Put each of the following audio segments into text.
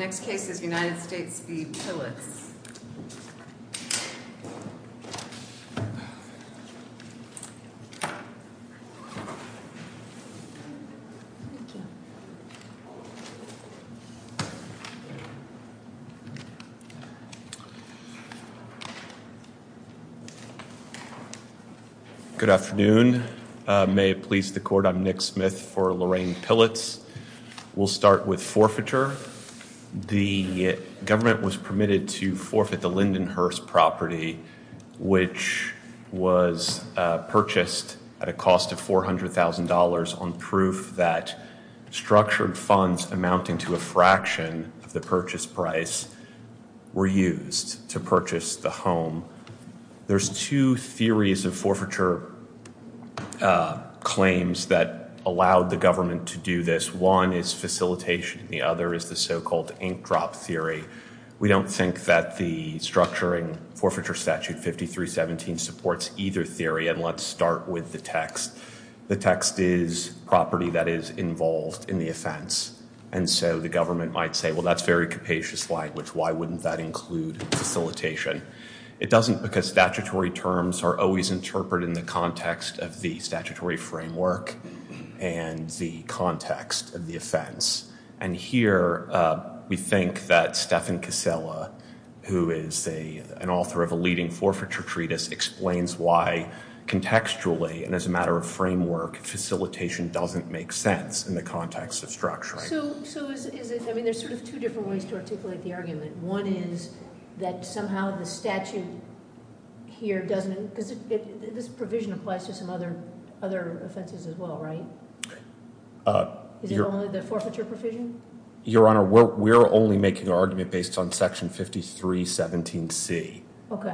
Good afternoon. May it please the court, I'm Nick Smith for Lorraine Pilitz. We'll start with forfeiture. The government was permitted to forfeit the Lindenhurst property which was purchased at a cost of $400,000 on proof that structured funds amounting to a fraction of the purchase price were used to purchase the home. There's two theories of forfeiture claims that allowed the government to do this. One is facilitation and the other is the so-called ink drop theory. We don't think that the structuring forfeiture statute 5317 supports either theory and let's start with the text. The text is property that is involved in the offense and so the government might say well that's very capacious language, why wouldn't that include facilitation. It doesn't because statutory terms are always interpreted in the context of the statutory framework and the context of the offense. And here we think that Stephan Casella who is an author of a leading forfeiture treatise explains why contextually and as a matter of framework facilitation doesn't make sense in the context of structuring. So is it, I mean there's sort of two different ways to articulate the argument. One is that somehow the statute here doesn't, because this provision applies to some other offenses as well right? Is it only the forfeiture provision? Your Honor, we're only making an argument based on section 5317C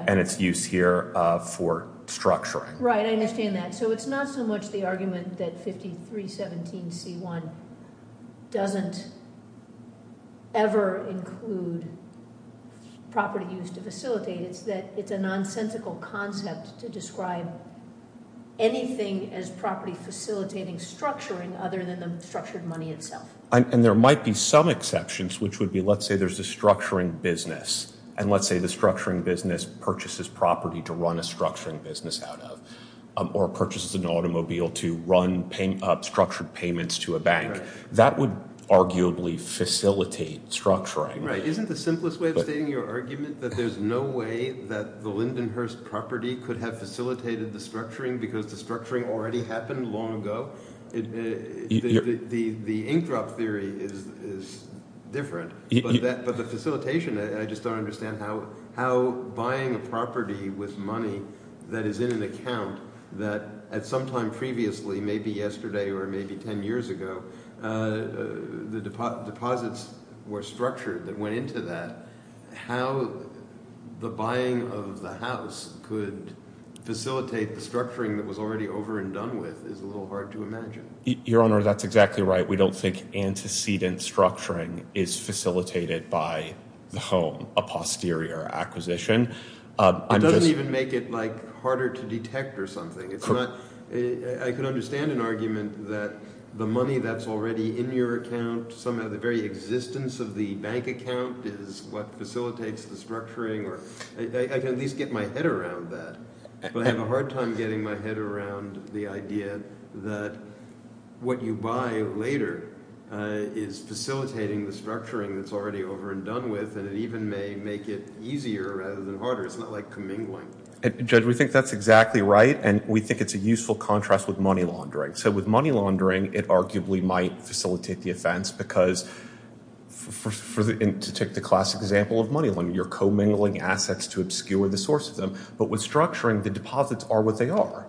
and its use here for structuring. Right I understand that. So it's not so much the argument that 5317C1 doesn't ever include property used to facilitate, it's that it's a nonsensical concept to describe anything as property facilitating structuring other than the structured money itself. And there might be some exceptions which would be let's say there's a structuring business and let's say the structuring business purchases property to run a structuring business out of, or purchases an automobile to run structured payments to a bank. That would arguably facilitate structuring. Right, isn't the simplest way of stating your argument that there's no way that the Lindenhurst property could have facilitated the structuring because the structuring already happened long ago? The ink drop theory is different, but the facilitation, I just don't understand how buying a property with money that is in an account that at some time previously, maybe yesterday or maybe 10 years ago, the deposits were structured that went into that. How the buying of the house could facilitate the structuring that was already over and done with is a little hard to imagine. Your Honor, that's exactly right. We don't think antecedent structuring is facilitated by the home, a posterior acquisition. It doesn't even make it harder to detect or something. I could understand an argument that the money that's already in your account, somehow the very existence of the bank account is what facilitates the structuring. I can at least get my head around that, but I have a later is facilitating the structuring that's already over and done with and it even may make it easier rather than harder. It's not like commingling. Judge, we think that's exactly right and we think it's a useful contrast with money laundering. So with money laundering, it arguably might facilitate the offense because to take the classic example of money laundering, you're commingling assets to obscure the source of them. But with structuring, the deposits are what they are.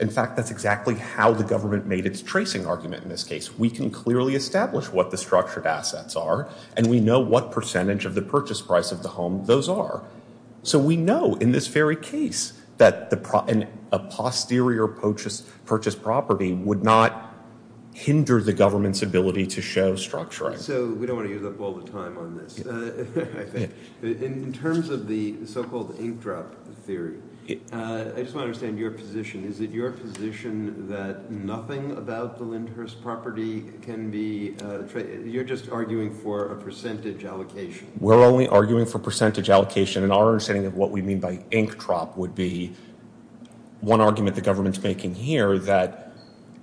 In fact, that's exactly how the government made its tracing argument in this case. We can clearly establish what the structured assets are and we know what percentage of the purchase price of the home those are. So we know in this very case that a posterior purchase property would not hinder the government's ability to show structuring. So we don't want to use up all the time on this. In terms of the so-called ink drop theory, I just want to understand your position. Is it your position that nothing about the Lindhurst property can be, you're just arguing for a percentage allocation? We're only arguing for percentage allocation and our understanding of what we mean by ink drop would be one argument the government's making here that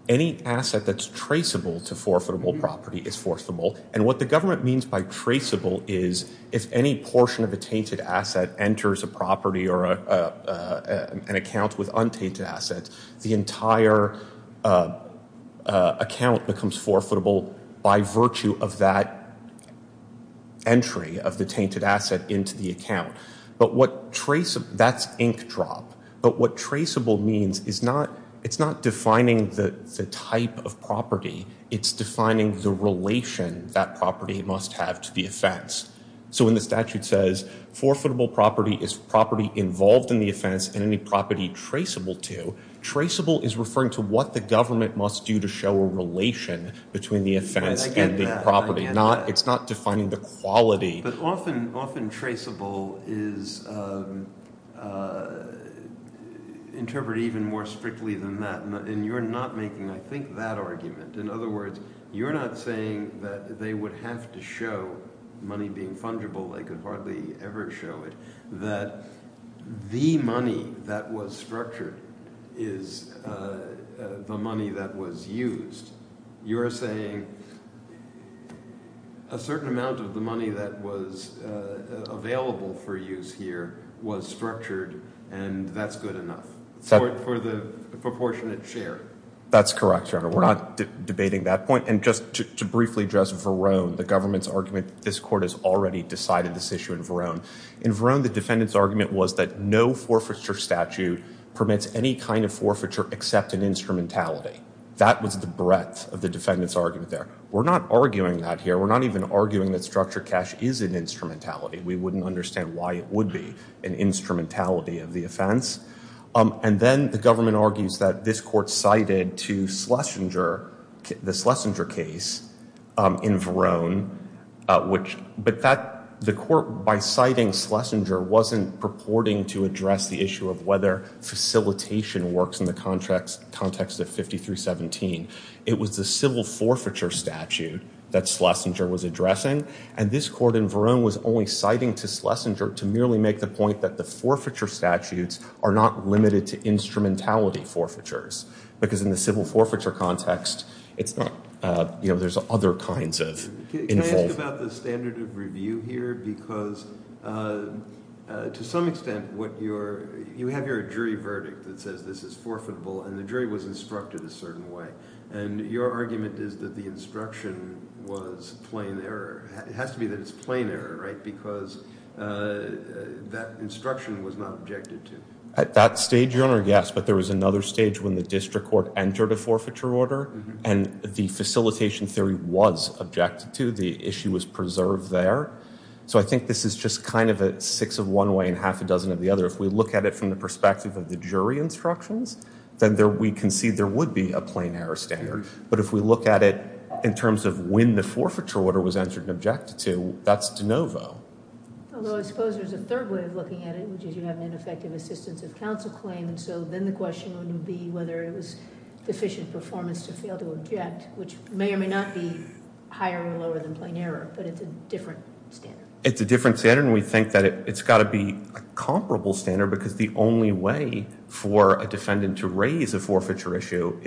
any asset that's traceable to forfeitable property is forcible. And what the government means by traceable is if any portion of a tainted asset enters a property or an account with untainted assets, the entire account becomes forfeitable by virtue of that entry of the tainted asset into the account. That's ink drop. But what traceable means is not defining the type of property. It's defining the relation that property must have to the offense. So when the statute says forfeitable property is property involved in the offense and any property traceable to, traceable is referring to what the government must do to show a relation between the offense and the property. It's not defining the quality. But often traceable is interpreted even more strictly than that. And you're not making, I think, that argument. In other words, you're not saying that they would have to show money being fungible. They could hardly ever show it. That the money that was structured is the money that was used. You're saying a certain amount of the money that was available for use here was structured and that's good enough for the proportionate share. That's correct, Your Honor. We're not debating that point. And just to briefly address Verone, the government's argument, this court has already decided this issue in Verone. In Verone, the defendant's argument was that no forfeiture statute permits any kind of forfeiture except an instrumentality. That was the breadth of the defendant's argument there. We're not arguing that here. We're not even arguing that structured cash is an instrumentality. We wouldn't understand why it would be an instrumentality of the offense. And then the government argues that this court cited to Schlesinger, the Schlesinger case in Verone. But the court, by citing Schlesinger, wasn't purporting to address the issue of whether facilitation works in the context of 5317. It was the civil forfeiture statute that Schlesinger was addressing. And this court in Verone was only citing to Schlesinger to merely make the point that the forfeiture statutes are limited to instrumentality forfeitures. Because in the civil forfeiture context, there's other kinds of involvement. Can I ask about the standard of review here? Because to some extent, you have your jury verdict that says this is forfeitable, and the jury was instructed a certain way. And your argument is that the instruction was plain error. It has to be plain error, right? Because that instruction was not objected to. At that stage, Your Honor, yes. But there was another stage when the district court entered a forfeiture order, and the facilitation theory was objected to. The issue was preserved there. So I think this is just kind of a six of one way and half a dozen of the other. If we look at it from the perspective of the jury instructions, then we can see there would be a plain error standard. But if we look at it in terms of when the forfeiture order was entered and objected to, that's de novo. Although I suppose there's a third way of looking at it, which is you have an ineffective assistance of counsel claim. And so then the question would be whether it was deficient performance to fail to object, which may or may not be higher or lower than plain error. But it's a different standard. It's a different standard, and we think that it's got to be a comparable standard. Because the only way for a defendant to raise a forfeiture issue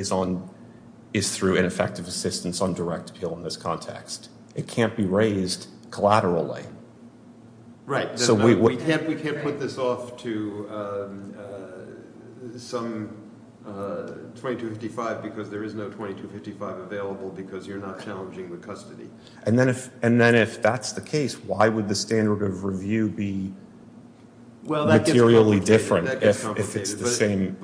is through ineffective assistance on direct appeal in this context. It can't be raised collaterally. Right. We can't put this off to some 2255 because there is no 2255 available because you're not challenging the custody. And then if that's the case, why would the standard of review be materially different if it's the same?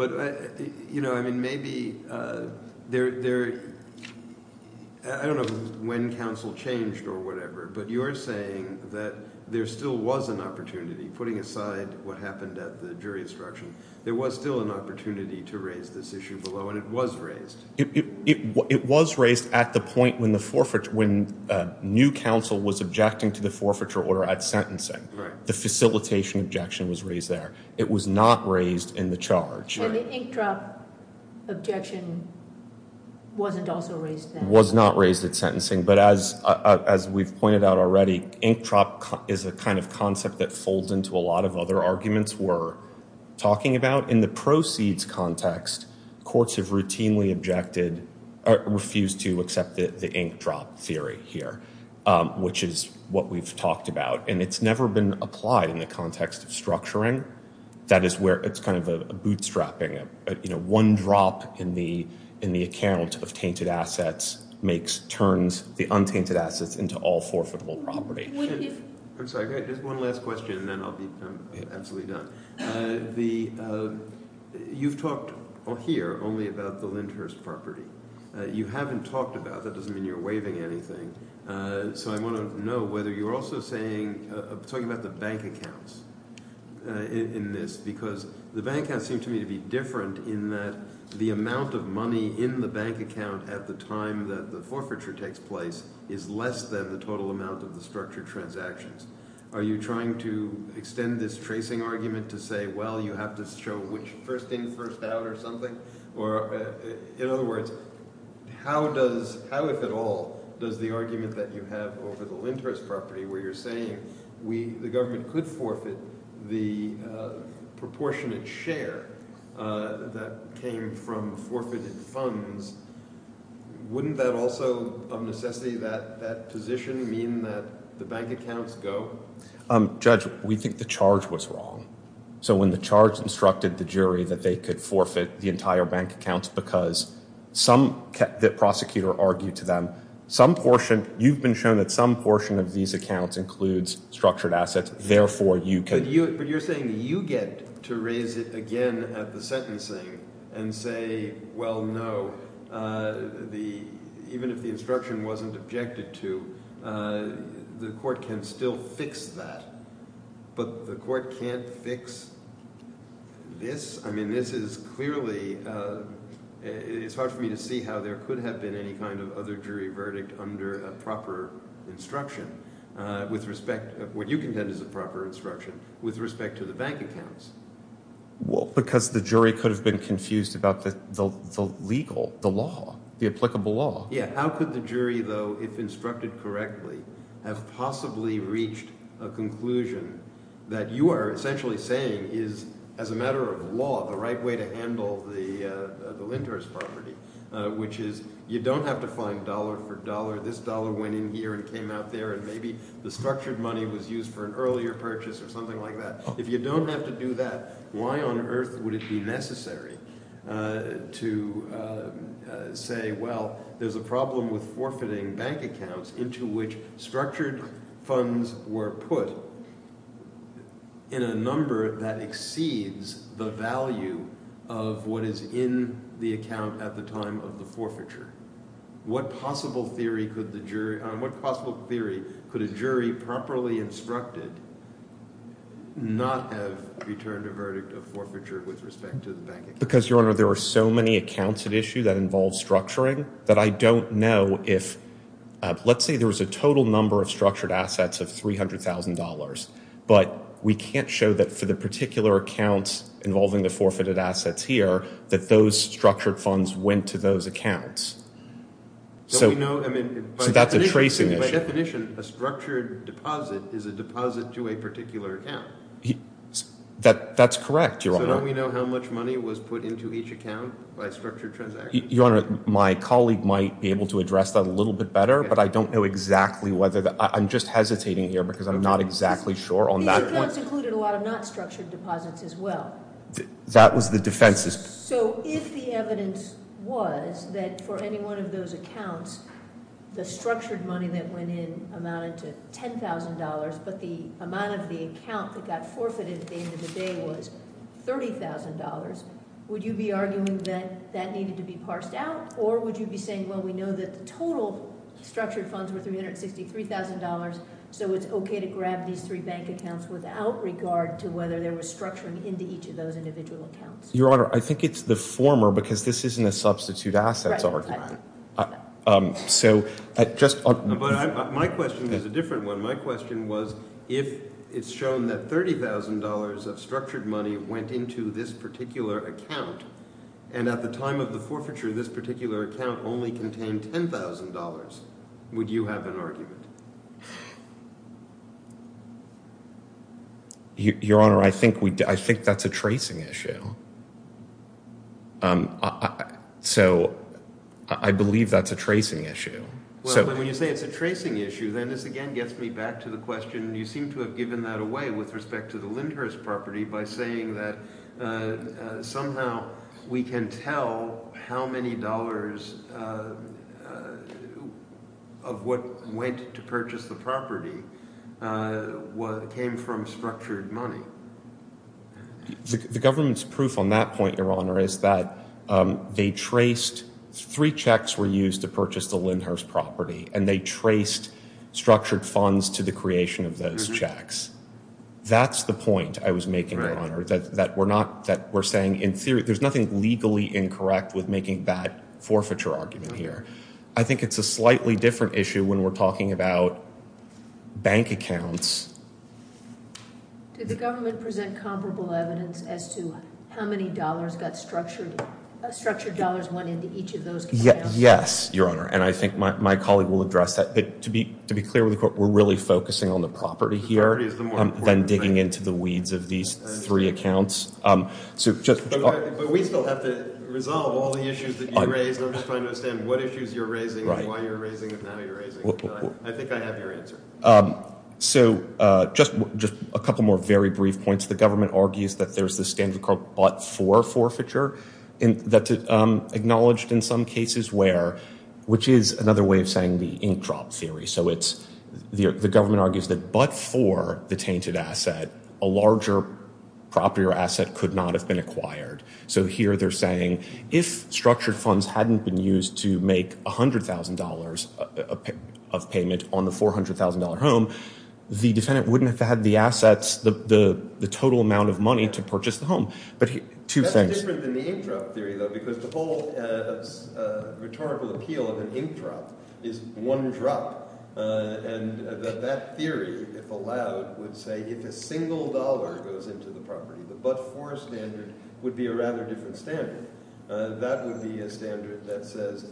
I don't know when counsel changed or whatever, but you're saying that there still was an opportunity, putting aside what happened at the jury instruction. There was still an opportunity to raise this issue below, and it was raised. It was raised at the point when the forfeiture, when new counsel was objecting to the forfeiture order at sentencing. The facilitation objection was raised there. It was not raised in the charge. And the ink drop objection wasn't also raised there. Was not raised at sentencing. But as as we've pointed out already, ink drop is a kind of concept that folds into a lot of other arguments we're talking about. In the proceeds context, courts have routinely objected or refused to accept the ink drop theory here, which is what we've talked about. And it's never been applied in the context of structuring. That is where it's kind of a bootstrapping. You know, one drop in the account of tainted assets makes, turns the untainted assets into all forfeitable property. I'm sorry, just one last question and then I'll be absolutely done. You've talked here only about the Lindhurst property. You haven't talked about, that doesn't mean you're waiving anything, so I want to know whether you're also saying, talking about the bank accounts in this, because the bank has seemed to me to be different in that the amount of money in the bank account at the time that the forfeiture takes place is less than the total amount of the structured transactions. Are you trying to extend this tracing argument to say, well, you have to show which first in, first out or something? Or in other words, how does, how if at all, does the argument that you have over the Lindhurst property, where you're saying we, the government could forfeit the proportionate share that came from forfeited funds, wouldn't that also, of necessity, that position mean that the bank accounts go? Judge, we think the charge was wrong. So when the charge instructed the jury that they could forfeit the entire bank accounts because some, the prosecutor argued to them, some portion, you've been shown that some portion of these accounts includes structured assets, therefore you can. But you're saying you get to raise it again at the sentencing and say, well, no, the, even if the instruction wasn't objected to, the court can still fix that. But the court can't fix this. I mean, this is clearly, it's hard for me to see how there could have been any kind of other jury verdict under a proper instruction with respect, what you contend is a proper instruction with respect to the bank accounts. Well, because the jury could have been confused about the legal, the law, the applicable law. Yeah, how could the jury, though, if instructed correctly, have possibly reached a conclusion that you are essentially saying is, as a matter of law, the right way to handle the lenders property, which is, you don't have to find dollar for dollar. This dollar went in here and came out there and maybe the structured money was used for an earlier purchase or something like that. If you don't have to do that, why on earth would it be necessary to say, well, there's a problem with forfeiting bank accounts into which structured funds were put in a number that exceeds the value of what is in the account at the time of the forfeiture? What possible theory could the jury, what possible theory could a jury properly instructed not have returned a verdict of forfeiture with respect to the bank account? Because, Your Honor, there are so many accounts at issue that involve structuring that I don't know if, let's say there was a total number of structured assets of $300,000, but we can't show that for the particular accounts involving the forfeited assets here, that those structured funds went to those accounts. So, we know, I mean, so that's a tracing issue. By definition, a structured deposit is a deposit to a particular account. That's correct, Your Honor. So don't we know how much money was put into each account by structured transactions? Your Honor, my colleague might be able to address that a little bit better, but I don't know exactly whether, I'm just hesitating here because I'm not exactly sure on that. These accounts included a lot of not structured deposits as well. That was the defense. So, if the evidence was that for any one of those accounts, the structured money that went in amounted to $10,000, but the amount of the account that got forfeited at the end of the day was $30,000, would you be arguing that that needed to be parsed out? Or would you be saying, well, we know that the total structured funds were $363,000, so it's okay to grab these three bank accounts without regard to whether there was structuring into each of those individual accounts? Your Honor, I think it's the former because this isn't a substitute assets argument. My question is a different one. My question was, if it's shown that $30,000 of structured money went into this particular account, and at the time of the forfeiture, this particular account only contained $10,000, would you have an argument? Your Honor, I think that's a tracing issue. So, I believe that's a tracing issue. Well, when you say it's a tracing issue, then this again gets me back to the question, you seem to have given that away with respect to the Lindhurst property by saying that somehow we can tell how many dollars of what went to purchase the property came from structured money. The government's proof on that point, Your Honor, is that they traced, three checks were used to purchase the Lindhurst property, and they traced structured funds to the creation of those checks. That's the point I was making, Your Honor, that we're not, that we're saying in theory, there's nothing legally incorrect with making that forfeiture argument here. I think it's a slightly different issue when we're talking about bank accounts. Did the government present comparable evidence as to how many dollars got structured, structured dollars went into each of those accounts? Yes, Your Honor, and I think my colleague will address that, but to be clear with the court, we're really focusing on the property here, than digging into the weeds of these three accounts. But we still have to resolve all the issues that you raised, I'm just trying to understand what issues you're raising, why you're raising them, and how you're raising them. I think I have your answer. So, just a couple more very brief points. The government argues that there's this standard called but-for forfeiture, that's acknowledged in some cases where, which is another way of saying the ink drop theory, so it's, the government argues that but-for the tainted asset, a larger property or asset could not have been acquired. So here they're saying, if structured funds hadn't been used to make $100,000 of payment on the $400,000 home, the defendant wouldn't have had the assets, the total amount of money to purchase the home. But that's different than the ink drop theory though, because the whole rhetorical appeal of an ink drop is one drop. And that theory, if allowed, would say if a single dollar goes into the property, the but-for standard would be a rather different standard. That would be a standard that says,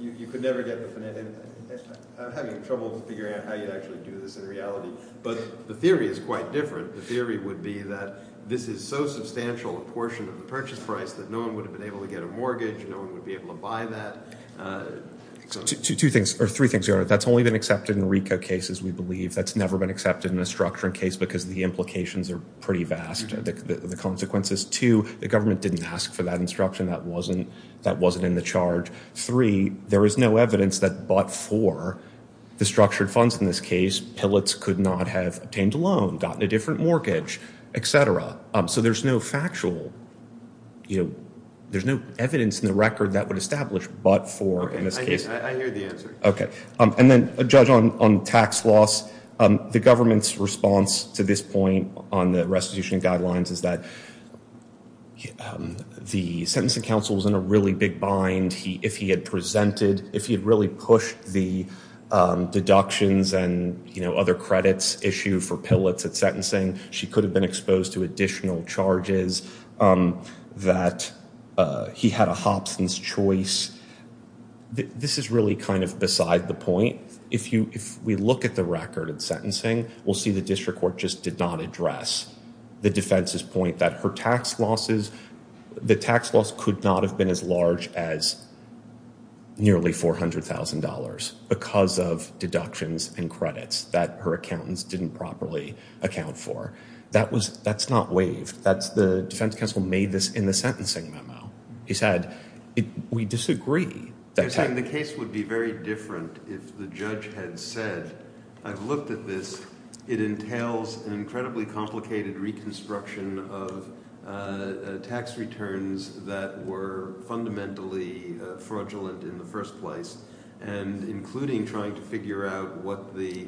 you could never get the, I'm having trouble figuring out how you actually do this in reality, but the theory is quite different. The theory would be that this is so substantial a portion of the purchase price that no one would have been able to get a mortgage, no one would be able to buy that. Two things, or three things, Your Honor. That's only been accepted in RICO cases, we believe. That's never been accepted in a structuring case, because the implications are pretty vast, the consequences. Two, the government didn't ask for that instruction, that wasn't in the charge. Three, there is no evidence that but-for, the structured funds in this case, PILOTs could not have obtained a loan, gotten a different mortgage, et cetera. So there's no factual, you know, there's no evidence in the record that would establish but-for in this case. I hear the answer. Okay. And then, Judge, on tax loss, the government's response to this point on the restitution guidelines is that the sentencing counsel was in a really big bind. If he had presented, if he had really pushed the deductions and, you know, other credits issue for PILOTs at sentencing, she could have been exposed to additional charges that he had a Hobson's choice. This is really kind of beside the point. If we look at the record at sentencing, we'll see the district court just did not address the defense's point that her tax losses, the tax loss could not have been as large as nearly $400,000 because of deductions and credits that her accountants didn't properly account for. That was, that's not waived. That's the defense counsel made this in the sentencing memo. He said, we disagree. The case would be very different if the judge had said, I've looked at this, it entails an incredibly complicated reconstruction of tax returns that were fundamentally fraudulent in the first place and including trying to figure out what the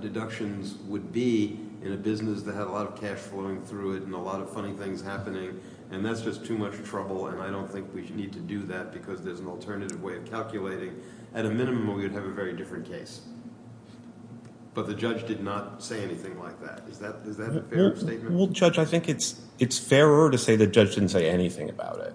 deductions would be in a business that had a lot of cash flowing through it and a lot of funny things happening and that's just too much trouble and I don't think we need to do that because there's an alternative way of calculating. At a minimum, we would have a very different case. But the judge did not say anything like that. Is that a fair statement? Well, Judge, I think it's fairer to say the judge didn't say anything about it.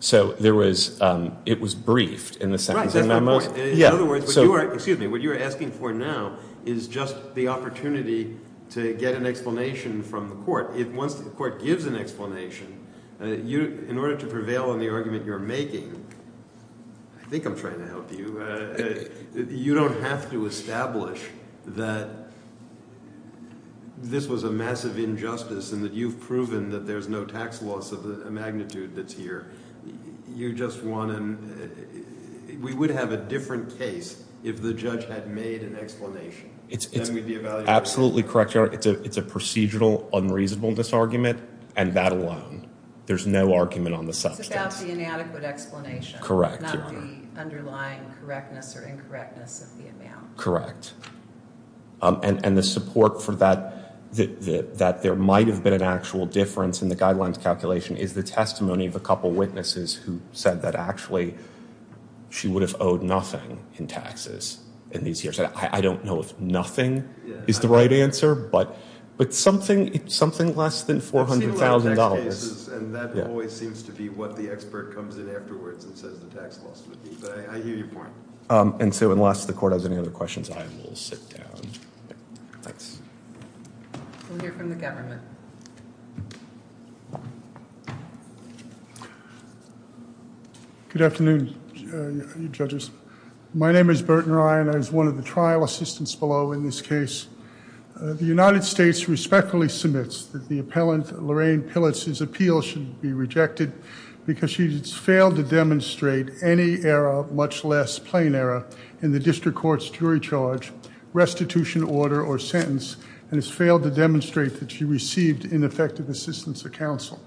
So there was, it was briefed in the sentencing memo. In other words, what you are asking for now is just the opportunity to get an explanation from the court. Once the court gives an explanation, in order to prevail on the argument you're making, I think I'm trying to help you, you don't have to establish that this was a massive injustice and that you've proven that there's no tax loss of the magnitude that's here. You just want to, we would have a different case if the judge had made an explanation. Absolutely correct, Your Honor. It's a procedural unreasonable disargument and that alone. There's no argument on the substance. It's about the inadequate explanation. Not the underlying correctness or incorrectness of the amount. Correct. And the support for that, that there might have been an actual difference in the guidelines calculation is the testimony of a couple witnesses who said that actually she would have owed nothing in taxes in these years. I don't know if nothing is the right answer, but something less than $400,000. It's similar in tax cases and that always seems to be what the expert comes in afterwards and says the tax loss would be, but I hear your point. And so unless the court has any other questions, I will sit down. Thanks. We'll hear from the government. Good afternoon, judges. My name is Burton Ryan. I was one of the trial assistants below in this case. The United States respectfully submits that the appellant Lorraine Pilitz's appeal should be rejected because she has failed to demonstrate any error, much less plain error, in the district court's jury charge, restitution order, or sentence, and has failed to demonstrate that she received ineffective assistance of counsel.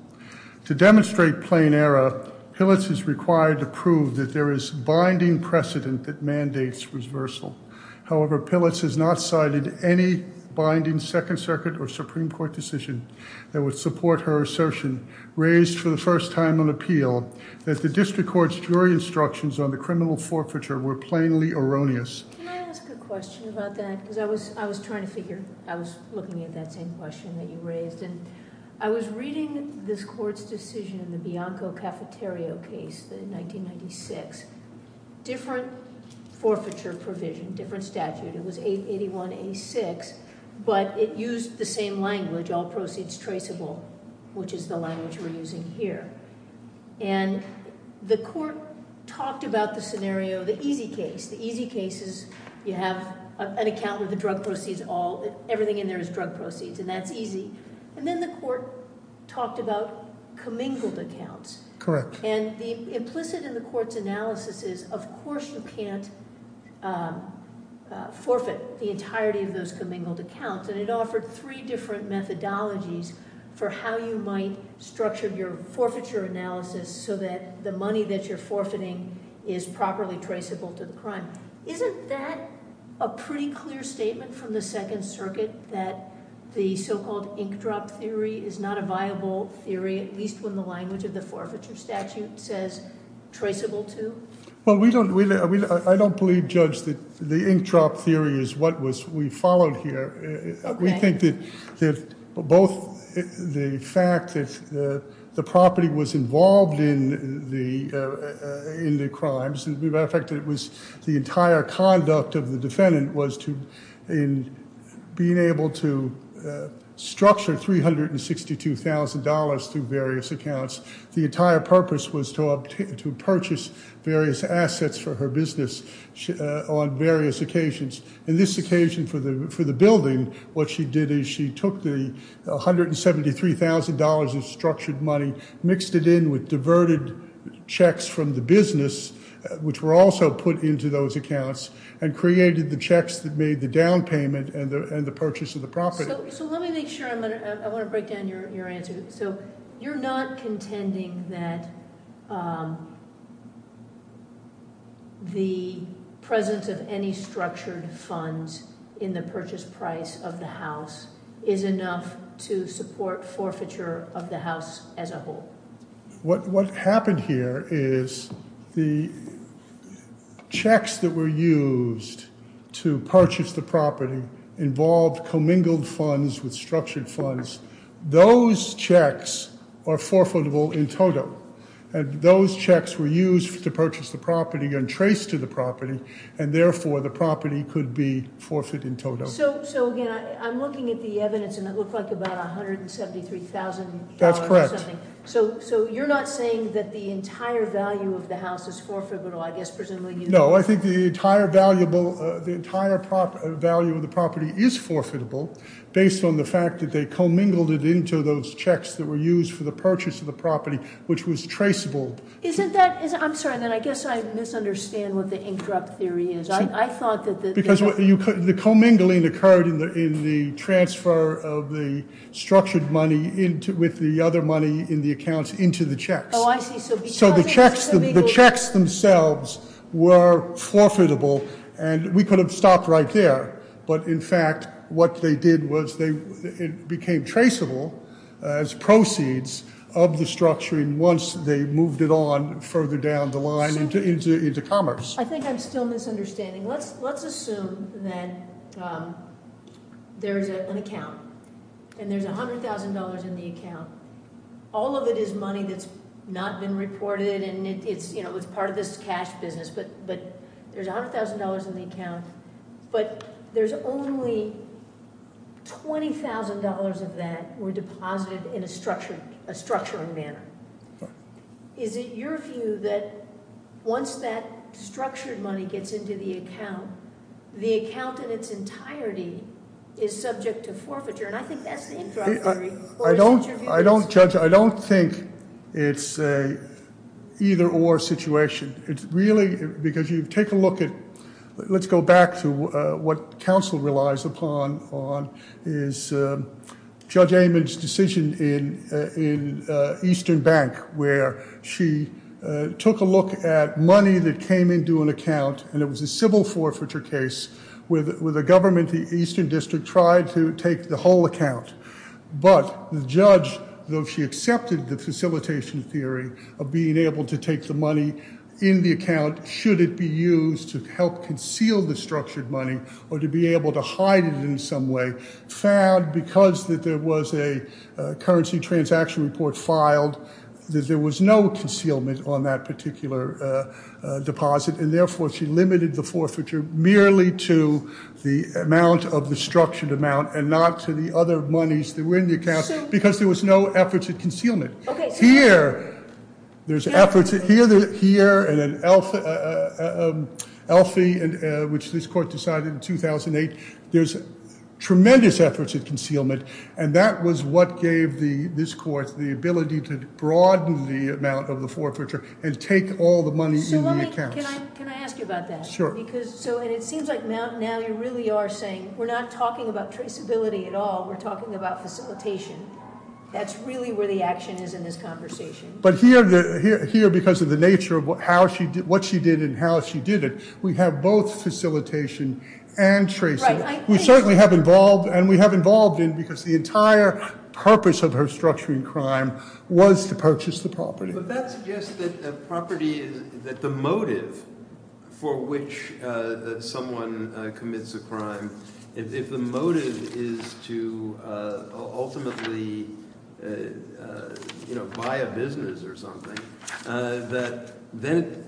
To demonstrate plain error, Pilitz is required to prove that there is binding precedent that mandates reversal. However, Pilitz has not cited any binding Second Circuit or Supreme Court decision that would support her assertion, raised for the first time on appeal, that the district court's jury instructions on the criminal forfeiture were plainly erroneous. Can I ask a question about that? Because I was trying to figure, I was looking at that same question that you raised. I was reading this court's decision, the Bianco Cafeterio case in 1996, different forfeiture provision, different statute. It was 881A6, but it used the same language, all proceeds traceable, which is the language we're using here. The court talked about the scenario, the easy case. The easy case is you have an account with the drug proceeds, everything in there is drug proceeds, and that's easy. Then the court talked about commingled accounts. The implicit in the court's analysis is, of course, you can't forfeit the entirety of those commingled accounts. It offered three different methodologies for how you might structure your forfeiture analysis so that the money that you're forfeiting is properly traceable to the crime. Isn't that a pretty clear statement from the Second Circuit, that the so-called ink drop theory is not a viable theory, at least when the language of the forfeiture statute says traceable to? Well, I don't believe, Judge, that the ink drop theory is what we followed here. We think that both the fact that the property was involved in the crimes, as a matter of fact, the entire conduct of the defendant was in being able to structure $362,000 through various accounts. The entire purpose was to purchase various assets for her business on various occasions. In this occasion for the building, what she did is she took the $173,000 of structured money, mixed it in with diverted checks from the business, which were also put into those accounts, and created the checks that made the down payment and the purchase of the property. So let me make sure, I want to break down your answer. So you're not contending that the presence of any structured funds in the purchase price of the house is enough to support forfeiture of the house as a whole? What happened here is the checks that were used to purchase the property involved commingled funds with structured funds. Those checks are forfeitable in total, and those checks were used to purchase the property and trace to the property, and therefore the property could be forfeit in total. So again, I'm looking at the evidence, and it looked like about $173,000 or something. So you're not saying that the entire value of the house is forfeitable, I guess, presumably? No, I think the entire value of the property is forfeitable based on the fact that they commingled it into those checks that were used for the purchase of the property, which was traceable. Isn't that, I'm sorry, I guess I misunderstand what the ink drop theory is. I thought that- The commingling occurred in the transfer of the structured money with the other money in the accounts into the checks. Oh, I see. So the checks themselves were forfeitable, and we could have stopped right there. But in fact, what they did was it became traceable as proceeds of the structuring once they moved it on further down the line into commerce. I think I'm still misunderstanding. Let's assume that there's an account, and there's $100,000 in the account. All of it is money that's not been reported, and it's part of this cash business, but there's $100,000 in the account, but there's only $20,000 of that were deposited in a structuring manner. Is it your view that once that structured money gets into the account, the account in its entirety is subject to forfeiture? And I think that's the ink drop theory. I don't, Judge, I don't think it's a either or situation. It's really, because you take a look at, let's go back to what counsel relies upon, is Judge Amon's decision in Eastern Bank where she took a look at money that came into an account, and it was a civil forfeiture case where the government, the Eastern District, tried to take the whole account. But the judge, though she accepted the facilitation theory of being able to take the money in the account should it be used to help conceal the structured money or to be able to hide it in some way, found because that there was a currency transaction report filed that there was no concealment on that particular deposit, and therefore she limited the forfeiture merely to the amount of the structured amount and not to the other monies that were in the account because there was no efforts at concealment. Here, there's efforts here and in Elphi, which this court decided in 2008, there's tremendous efforts at concealment, and that was what gave this court the ability to broaden the amount of the forfeiture and take all the money in the account. So let me, can I ask you about that? Sure. Because, so, and it seems like now you really are saying we're not talking about traceability at all, we're talking about facilitation. That's really where the action is in this conversation. But here, because of the nature of how she, what she did and how she did it, we have both facilitation and tracing. We certainly have involved, and we have involved in because the entire purpose of her structuring crime was to purchase the property. But that suggests that the property, that the motive for which someone commits a crime, if the motive is to ultimately, you know, buy a business or something, that then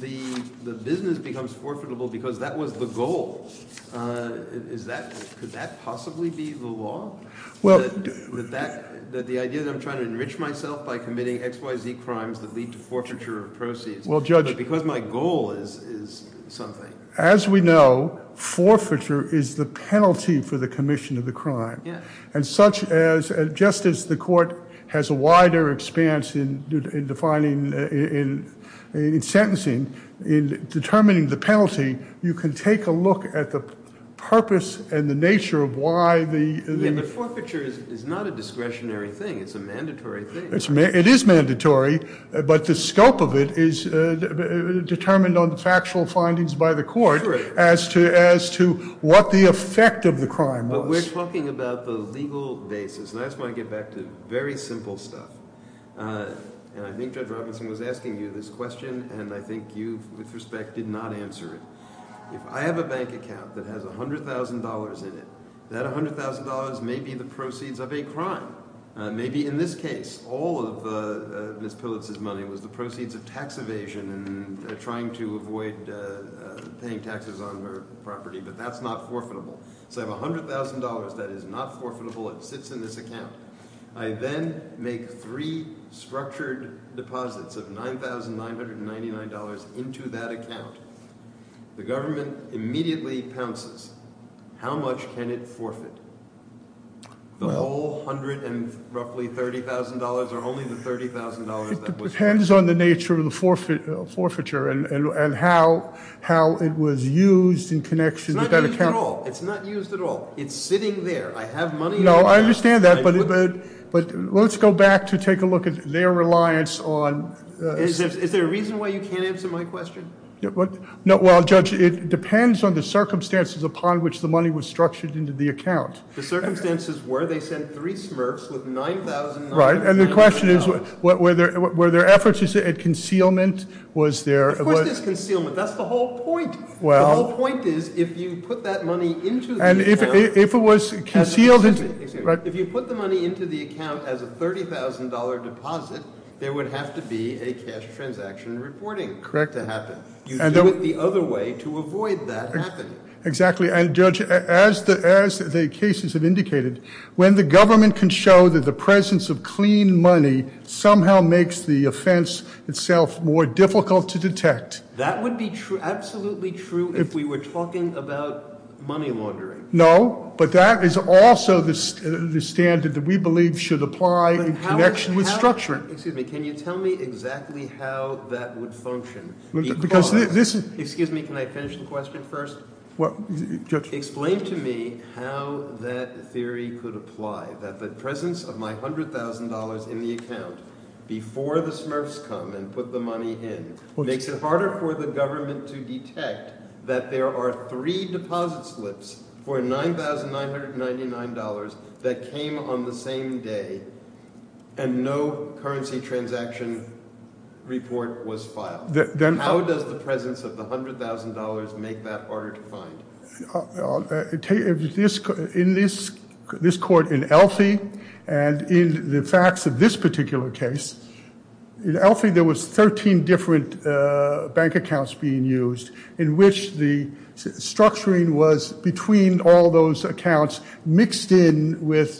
the business becomes forfeitable because that was the goal. Is that, could that possibly be the law? Well, that the idea that I'm trying to enrich myself by committing X, Y, Z crimes that lead to forfeiture of proceeds, but because my goal is something. As we know, forfeiture is the penalty for the commission of the crime. And such as, just as the court has a wider expanse in defining, in sentencing, in determining the penalty, you can take a look at the purpose and the nature of why the- Yeah, but forfeiture is not a discretionary thing, it's a mandatory thing. It is mandatory, but the scope of it is determined on the factual findings by the court as to what the effect of the crime was. But we're talking about the legal basis. And I just want to get back to very simple stuff. And I think Judge Robinson was asking you this question, and I think you, with respect, did not answer it. If I have a bank account that has $100,000 in it, that $100,000 may be the proceeds of a crime. Maybe in this case, all of Ms. Pillitz's money was the proceeds of tax evasion and trying to avoid paying taxes on her property, but that's not forfeitable. So I have $100,000 that is not forfeitable, it sits in this account. I then make three structured deposits of $9,999 into that account. The government immediately pounces. How much can it forfeit? The whole $130,000 or only the $30,000 that was used? It depends on the nature of the forfeiture and how it was used in connection with that account. It's not used at all. It's sitting there. I have money in the account. No, I understand that, but let's go back to take a look at their reliance on... Is there a reason why you can't answer my question? Well, Judge, it depends on the circumstances upon which the money was structured into the account. The circumstances were they sent three smurfs with $9,999. Right, and the question is, were there efforts at concealment? Of course there's concealment. That's the whole point. The whole point is if you put that money into the account as a $30,000 deposit, there would have to be a cash transaction reporting to happen. You do it the other way to avoid that happening. Exactly, and Judge, as the cases have indicated, when the government can show that the presence of clean money somehow makes the offense itself more difficult to detect... That would be absolutely true if we were talking about money laundering. No, but that is also the standard that we believe should apply in connection with structuring. Excuse me, can you tell me exactly how that would function? Excuse me, can I finish the question first? Explain to me how that theory could apply, that the presence of my $100,000 in the account before the smurfs come and put the money in makes it harder for the government to detect that there are three deposit slips for $9,999 that came on the same day and no currency transaction report was filed. How does the presence of the $100,000 make that harder to find? In this court in Elphi, and in the facts of this particular case, in Elphi there was 13 different bank accounts being used in which the structuring was between all those accounts mixed in with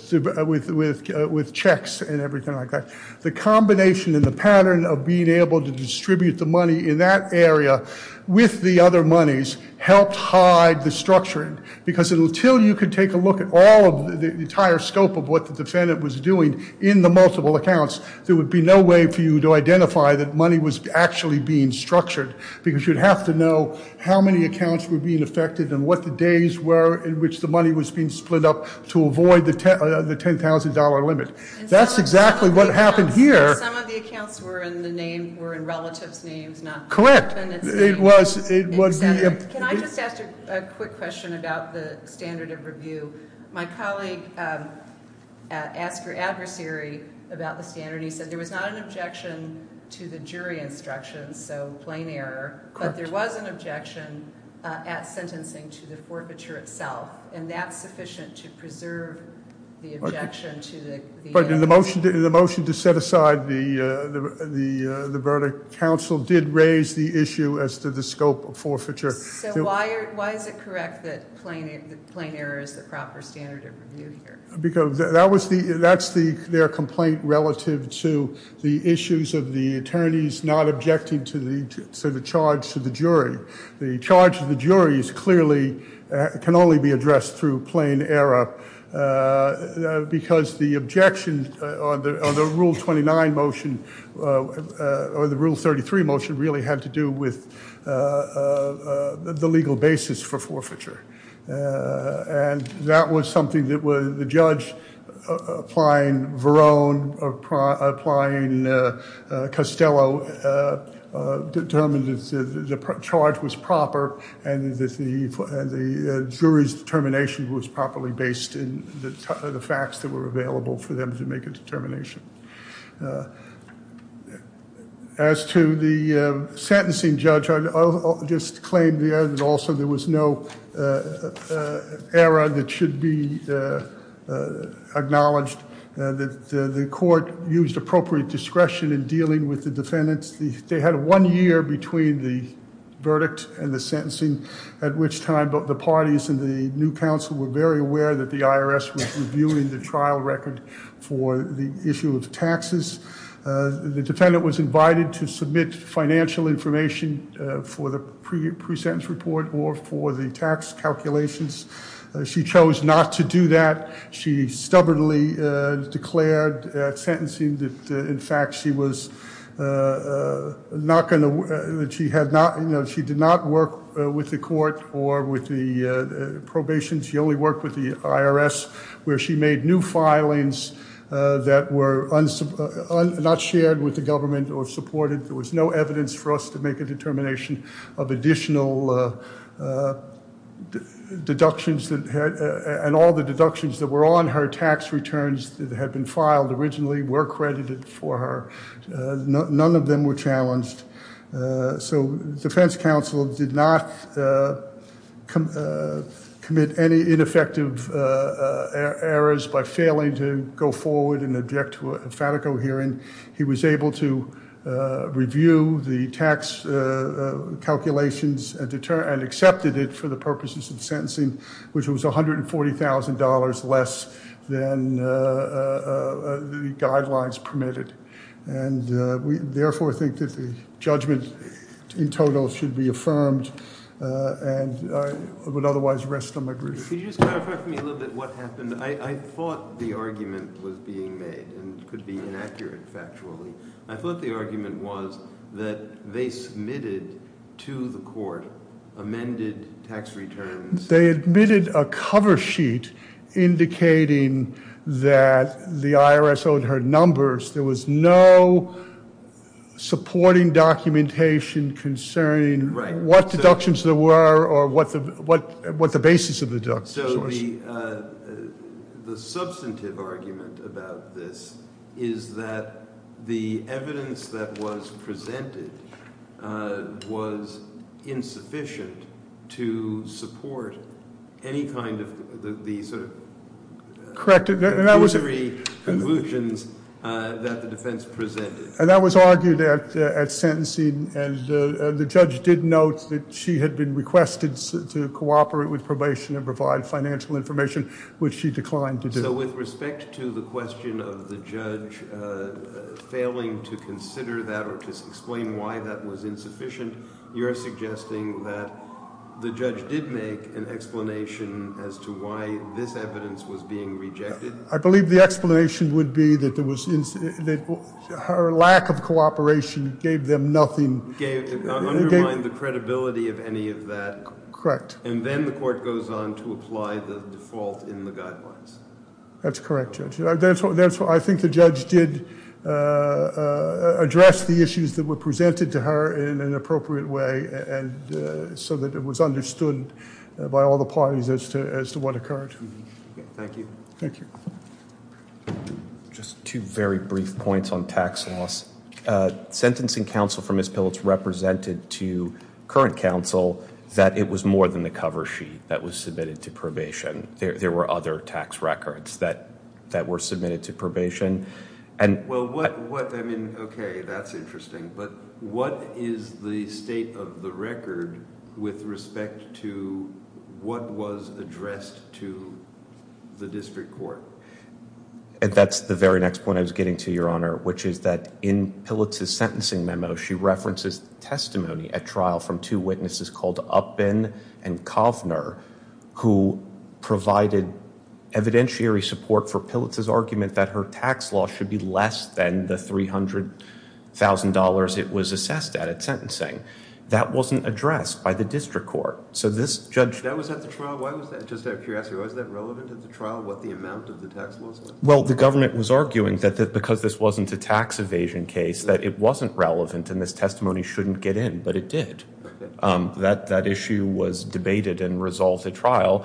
checks and everything like that. The combination and the pattern of being able to distribute the money in that area with the other monies helped hide the structuring because until you could take a look at all of the entire scope of what the defendant was doing in the multiple accounts, there would be no way for you to identify that money was actually being structured because you'd have to know how many accounts were being affected and what the days were in which the money was being split up to avoid the $10,000 limit. That's exactly what happened here. And some of the accounts were in the name, were in relatives' names, not the defendant's Correct, it was, it would be. Can I just ask a quick question about the standard of review? My colleague asked her adversary about the standard and he said there was not an objection to the jury instructions, so plain error, but there was an objection at sentencing to the forfeiture itself, and that's sufficient to preserve the objection to the- But in the motion to set aside the verdict, counsel did raise the issue as to the scope of forfeiture. So why is it correct that plain error is the proper standard of review here? Because that's their complaint relative to the issues of the attorneys not objecting to the charge to the jury. The charge to the jury is clearly, can only be addressed through plain error because the objection on the Rule 29 motion or the Rule 33 motion really had to do with the legal basis for forfeiture. And that was something that was, the judge applying Verone, applying Costello, determined the charge was proper and that the jury's determination was properly based in the facts that were available for them to make a determination. As to the sentencing judge, I'll just claim there that also there was no error that should be acknowledged that the court used appropriate discretion in dealing with the defendants. They had one year between the verdict and the sentencing, at which time both the parties and the new counsel were very aware that the IRS was reviewing the trial record for the issue of taxes. The defendant was invited to submit financial information for the pre-sentence report or for the tax calculations. She chose not to do that. She stubbornly declared at sentencing that, in fact, she did not work with the court or with the probation. She only worked with the IRS, where she made new filings that were not shared with the government or supported. There was no evidence for us to make a determination of additional deductions and all the deductions that were on her tax returns that had been filed originally were credited for her. None of them were challenged. So defense counsel did not commit any ineffective errors by failing to go forward and object to a FATICO hearing. He was able to review the tax calculations and accepted it for the purposes of sentencing, which was $140,000 less than the guidelines permitted. And we therefore think that the judgment in total should be affirmed and I would otherwise rest on my grief. Could you just clarify for me a little bit what happened? I thought the argument was being made and could be inaccurate factually. I thought the argument was that they submitted to the court amended tax returns. They admitted a cover sheet indicating that the IRS owed her numbers. There was no supporting documentation concerning what deductions there were or what the basis of the deductions was. So the substantive argument about this is that the evidence that was presented was insufficient to support any kind of the sort of convulsions that the defense presented. And that was argued at sentencing and the judge did note that she had been requested to cooperate with probation and provide financial information, which she declined to do. So with respect to the question of the judge failing to consider that or to explain why that was insufficient, you're suggesting that the judge did make an explanation as to why this evidence was being rejected? I believe the explanation would be that her lack of cooperation gave them nothing. Undermined the credibility of any of that. Correct. And then the court goes on to apply the default in the guidelines. That's correct, Judge. I think the judge did address the issues that were presented to her in an appropriate way so that it was understood by all the parties as to what occurred. Thank you. Thank you. Just two very brief points on tax loss. Sentencing counsel for Ms. Phillips represented to current counsel that it was more than the cover sheet that was submitted to probation. There were other tax records that were submitted to probation. Well, okay, that's interesting. But what is the state of the record with respect to what was addressed to the district court? That's the very next point I was getting to, Your Honor, which is that in Phillips's sentencing memo, she references testimony at trial from two witnesses called Uppen and Kovner, who provided evidentiary support for Phillips's argument that her tax loss should be less than the $300,000 it was assessed at, at sentencing. That wasn't addressed by the district court. So this judge- That was at the trial? Why was that? Just out of curiosity, was that relevant at the trial, what the amount of the tax loss was? Well, the government was arguing that because this wasn't a tax evasion case, that it wasn't relevant and this testimony shouldn't get in, but it did. That issue was debated and resolved at trial.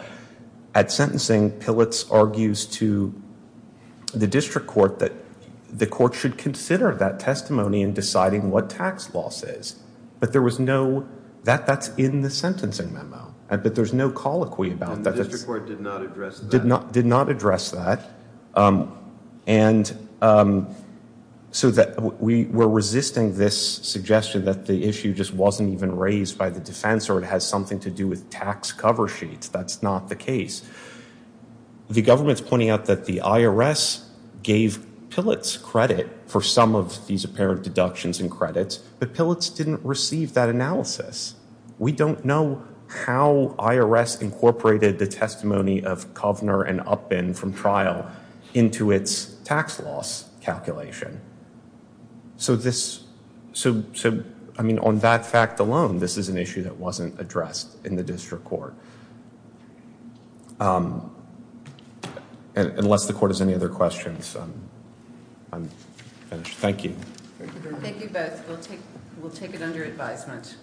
At sentencing, Phillips argues to the district court that the court should consider that testimony in deciding what tax loss is, but that's in the sentencing memo. But there's no colloquy about that. And the district court did not address that? Did not address that. And so that we were resisting this suggestion that the issue just wasn't even raised by the defense or it has something to do with tax cover sheets. That's not the case. The government's pointing out that the IRS gave Phillips credit for some of these apparent deductions and credits, but Phillips didn't receive that analysis. We don't know how IRS incorporated the testimony of Kovner and Upin from trial into its tax loss calculation. So, I mean, on that fact alone, this is an issue that wasn't addressed in the district court. Unless the court has any other questions, I'm finished. Thank you. Thank you both. We'll take it under advisement. Thank you.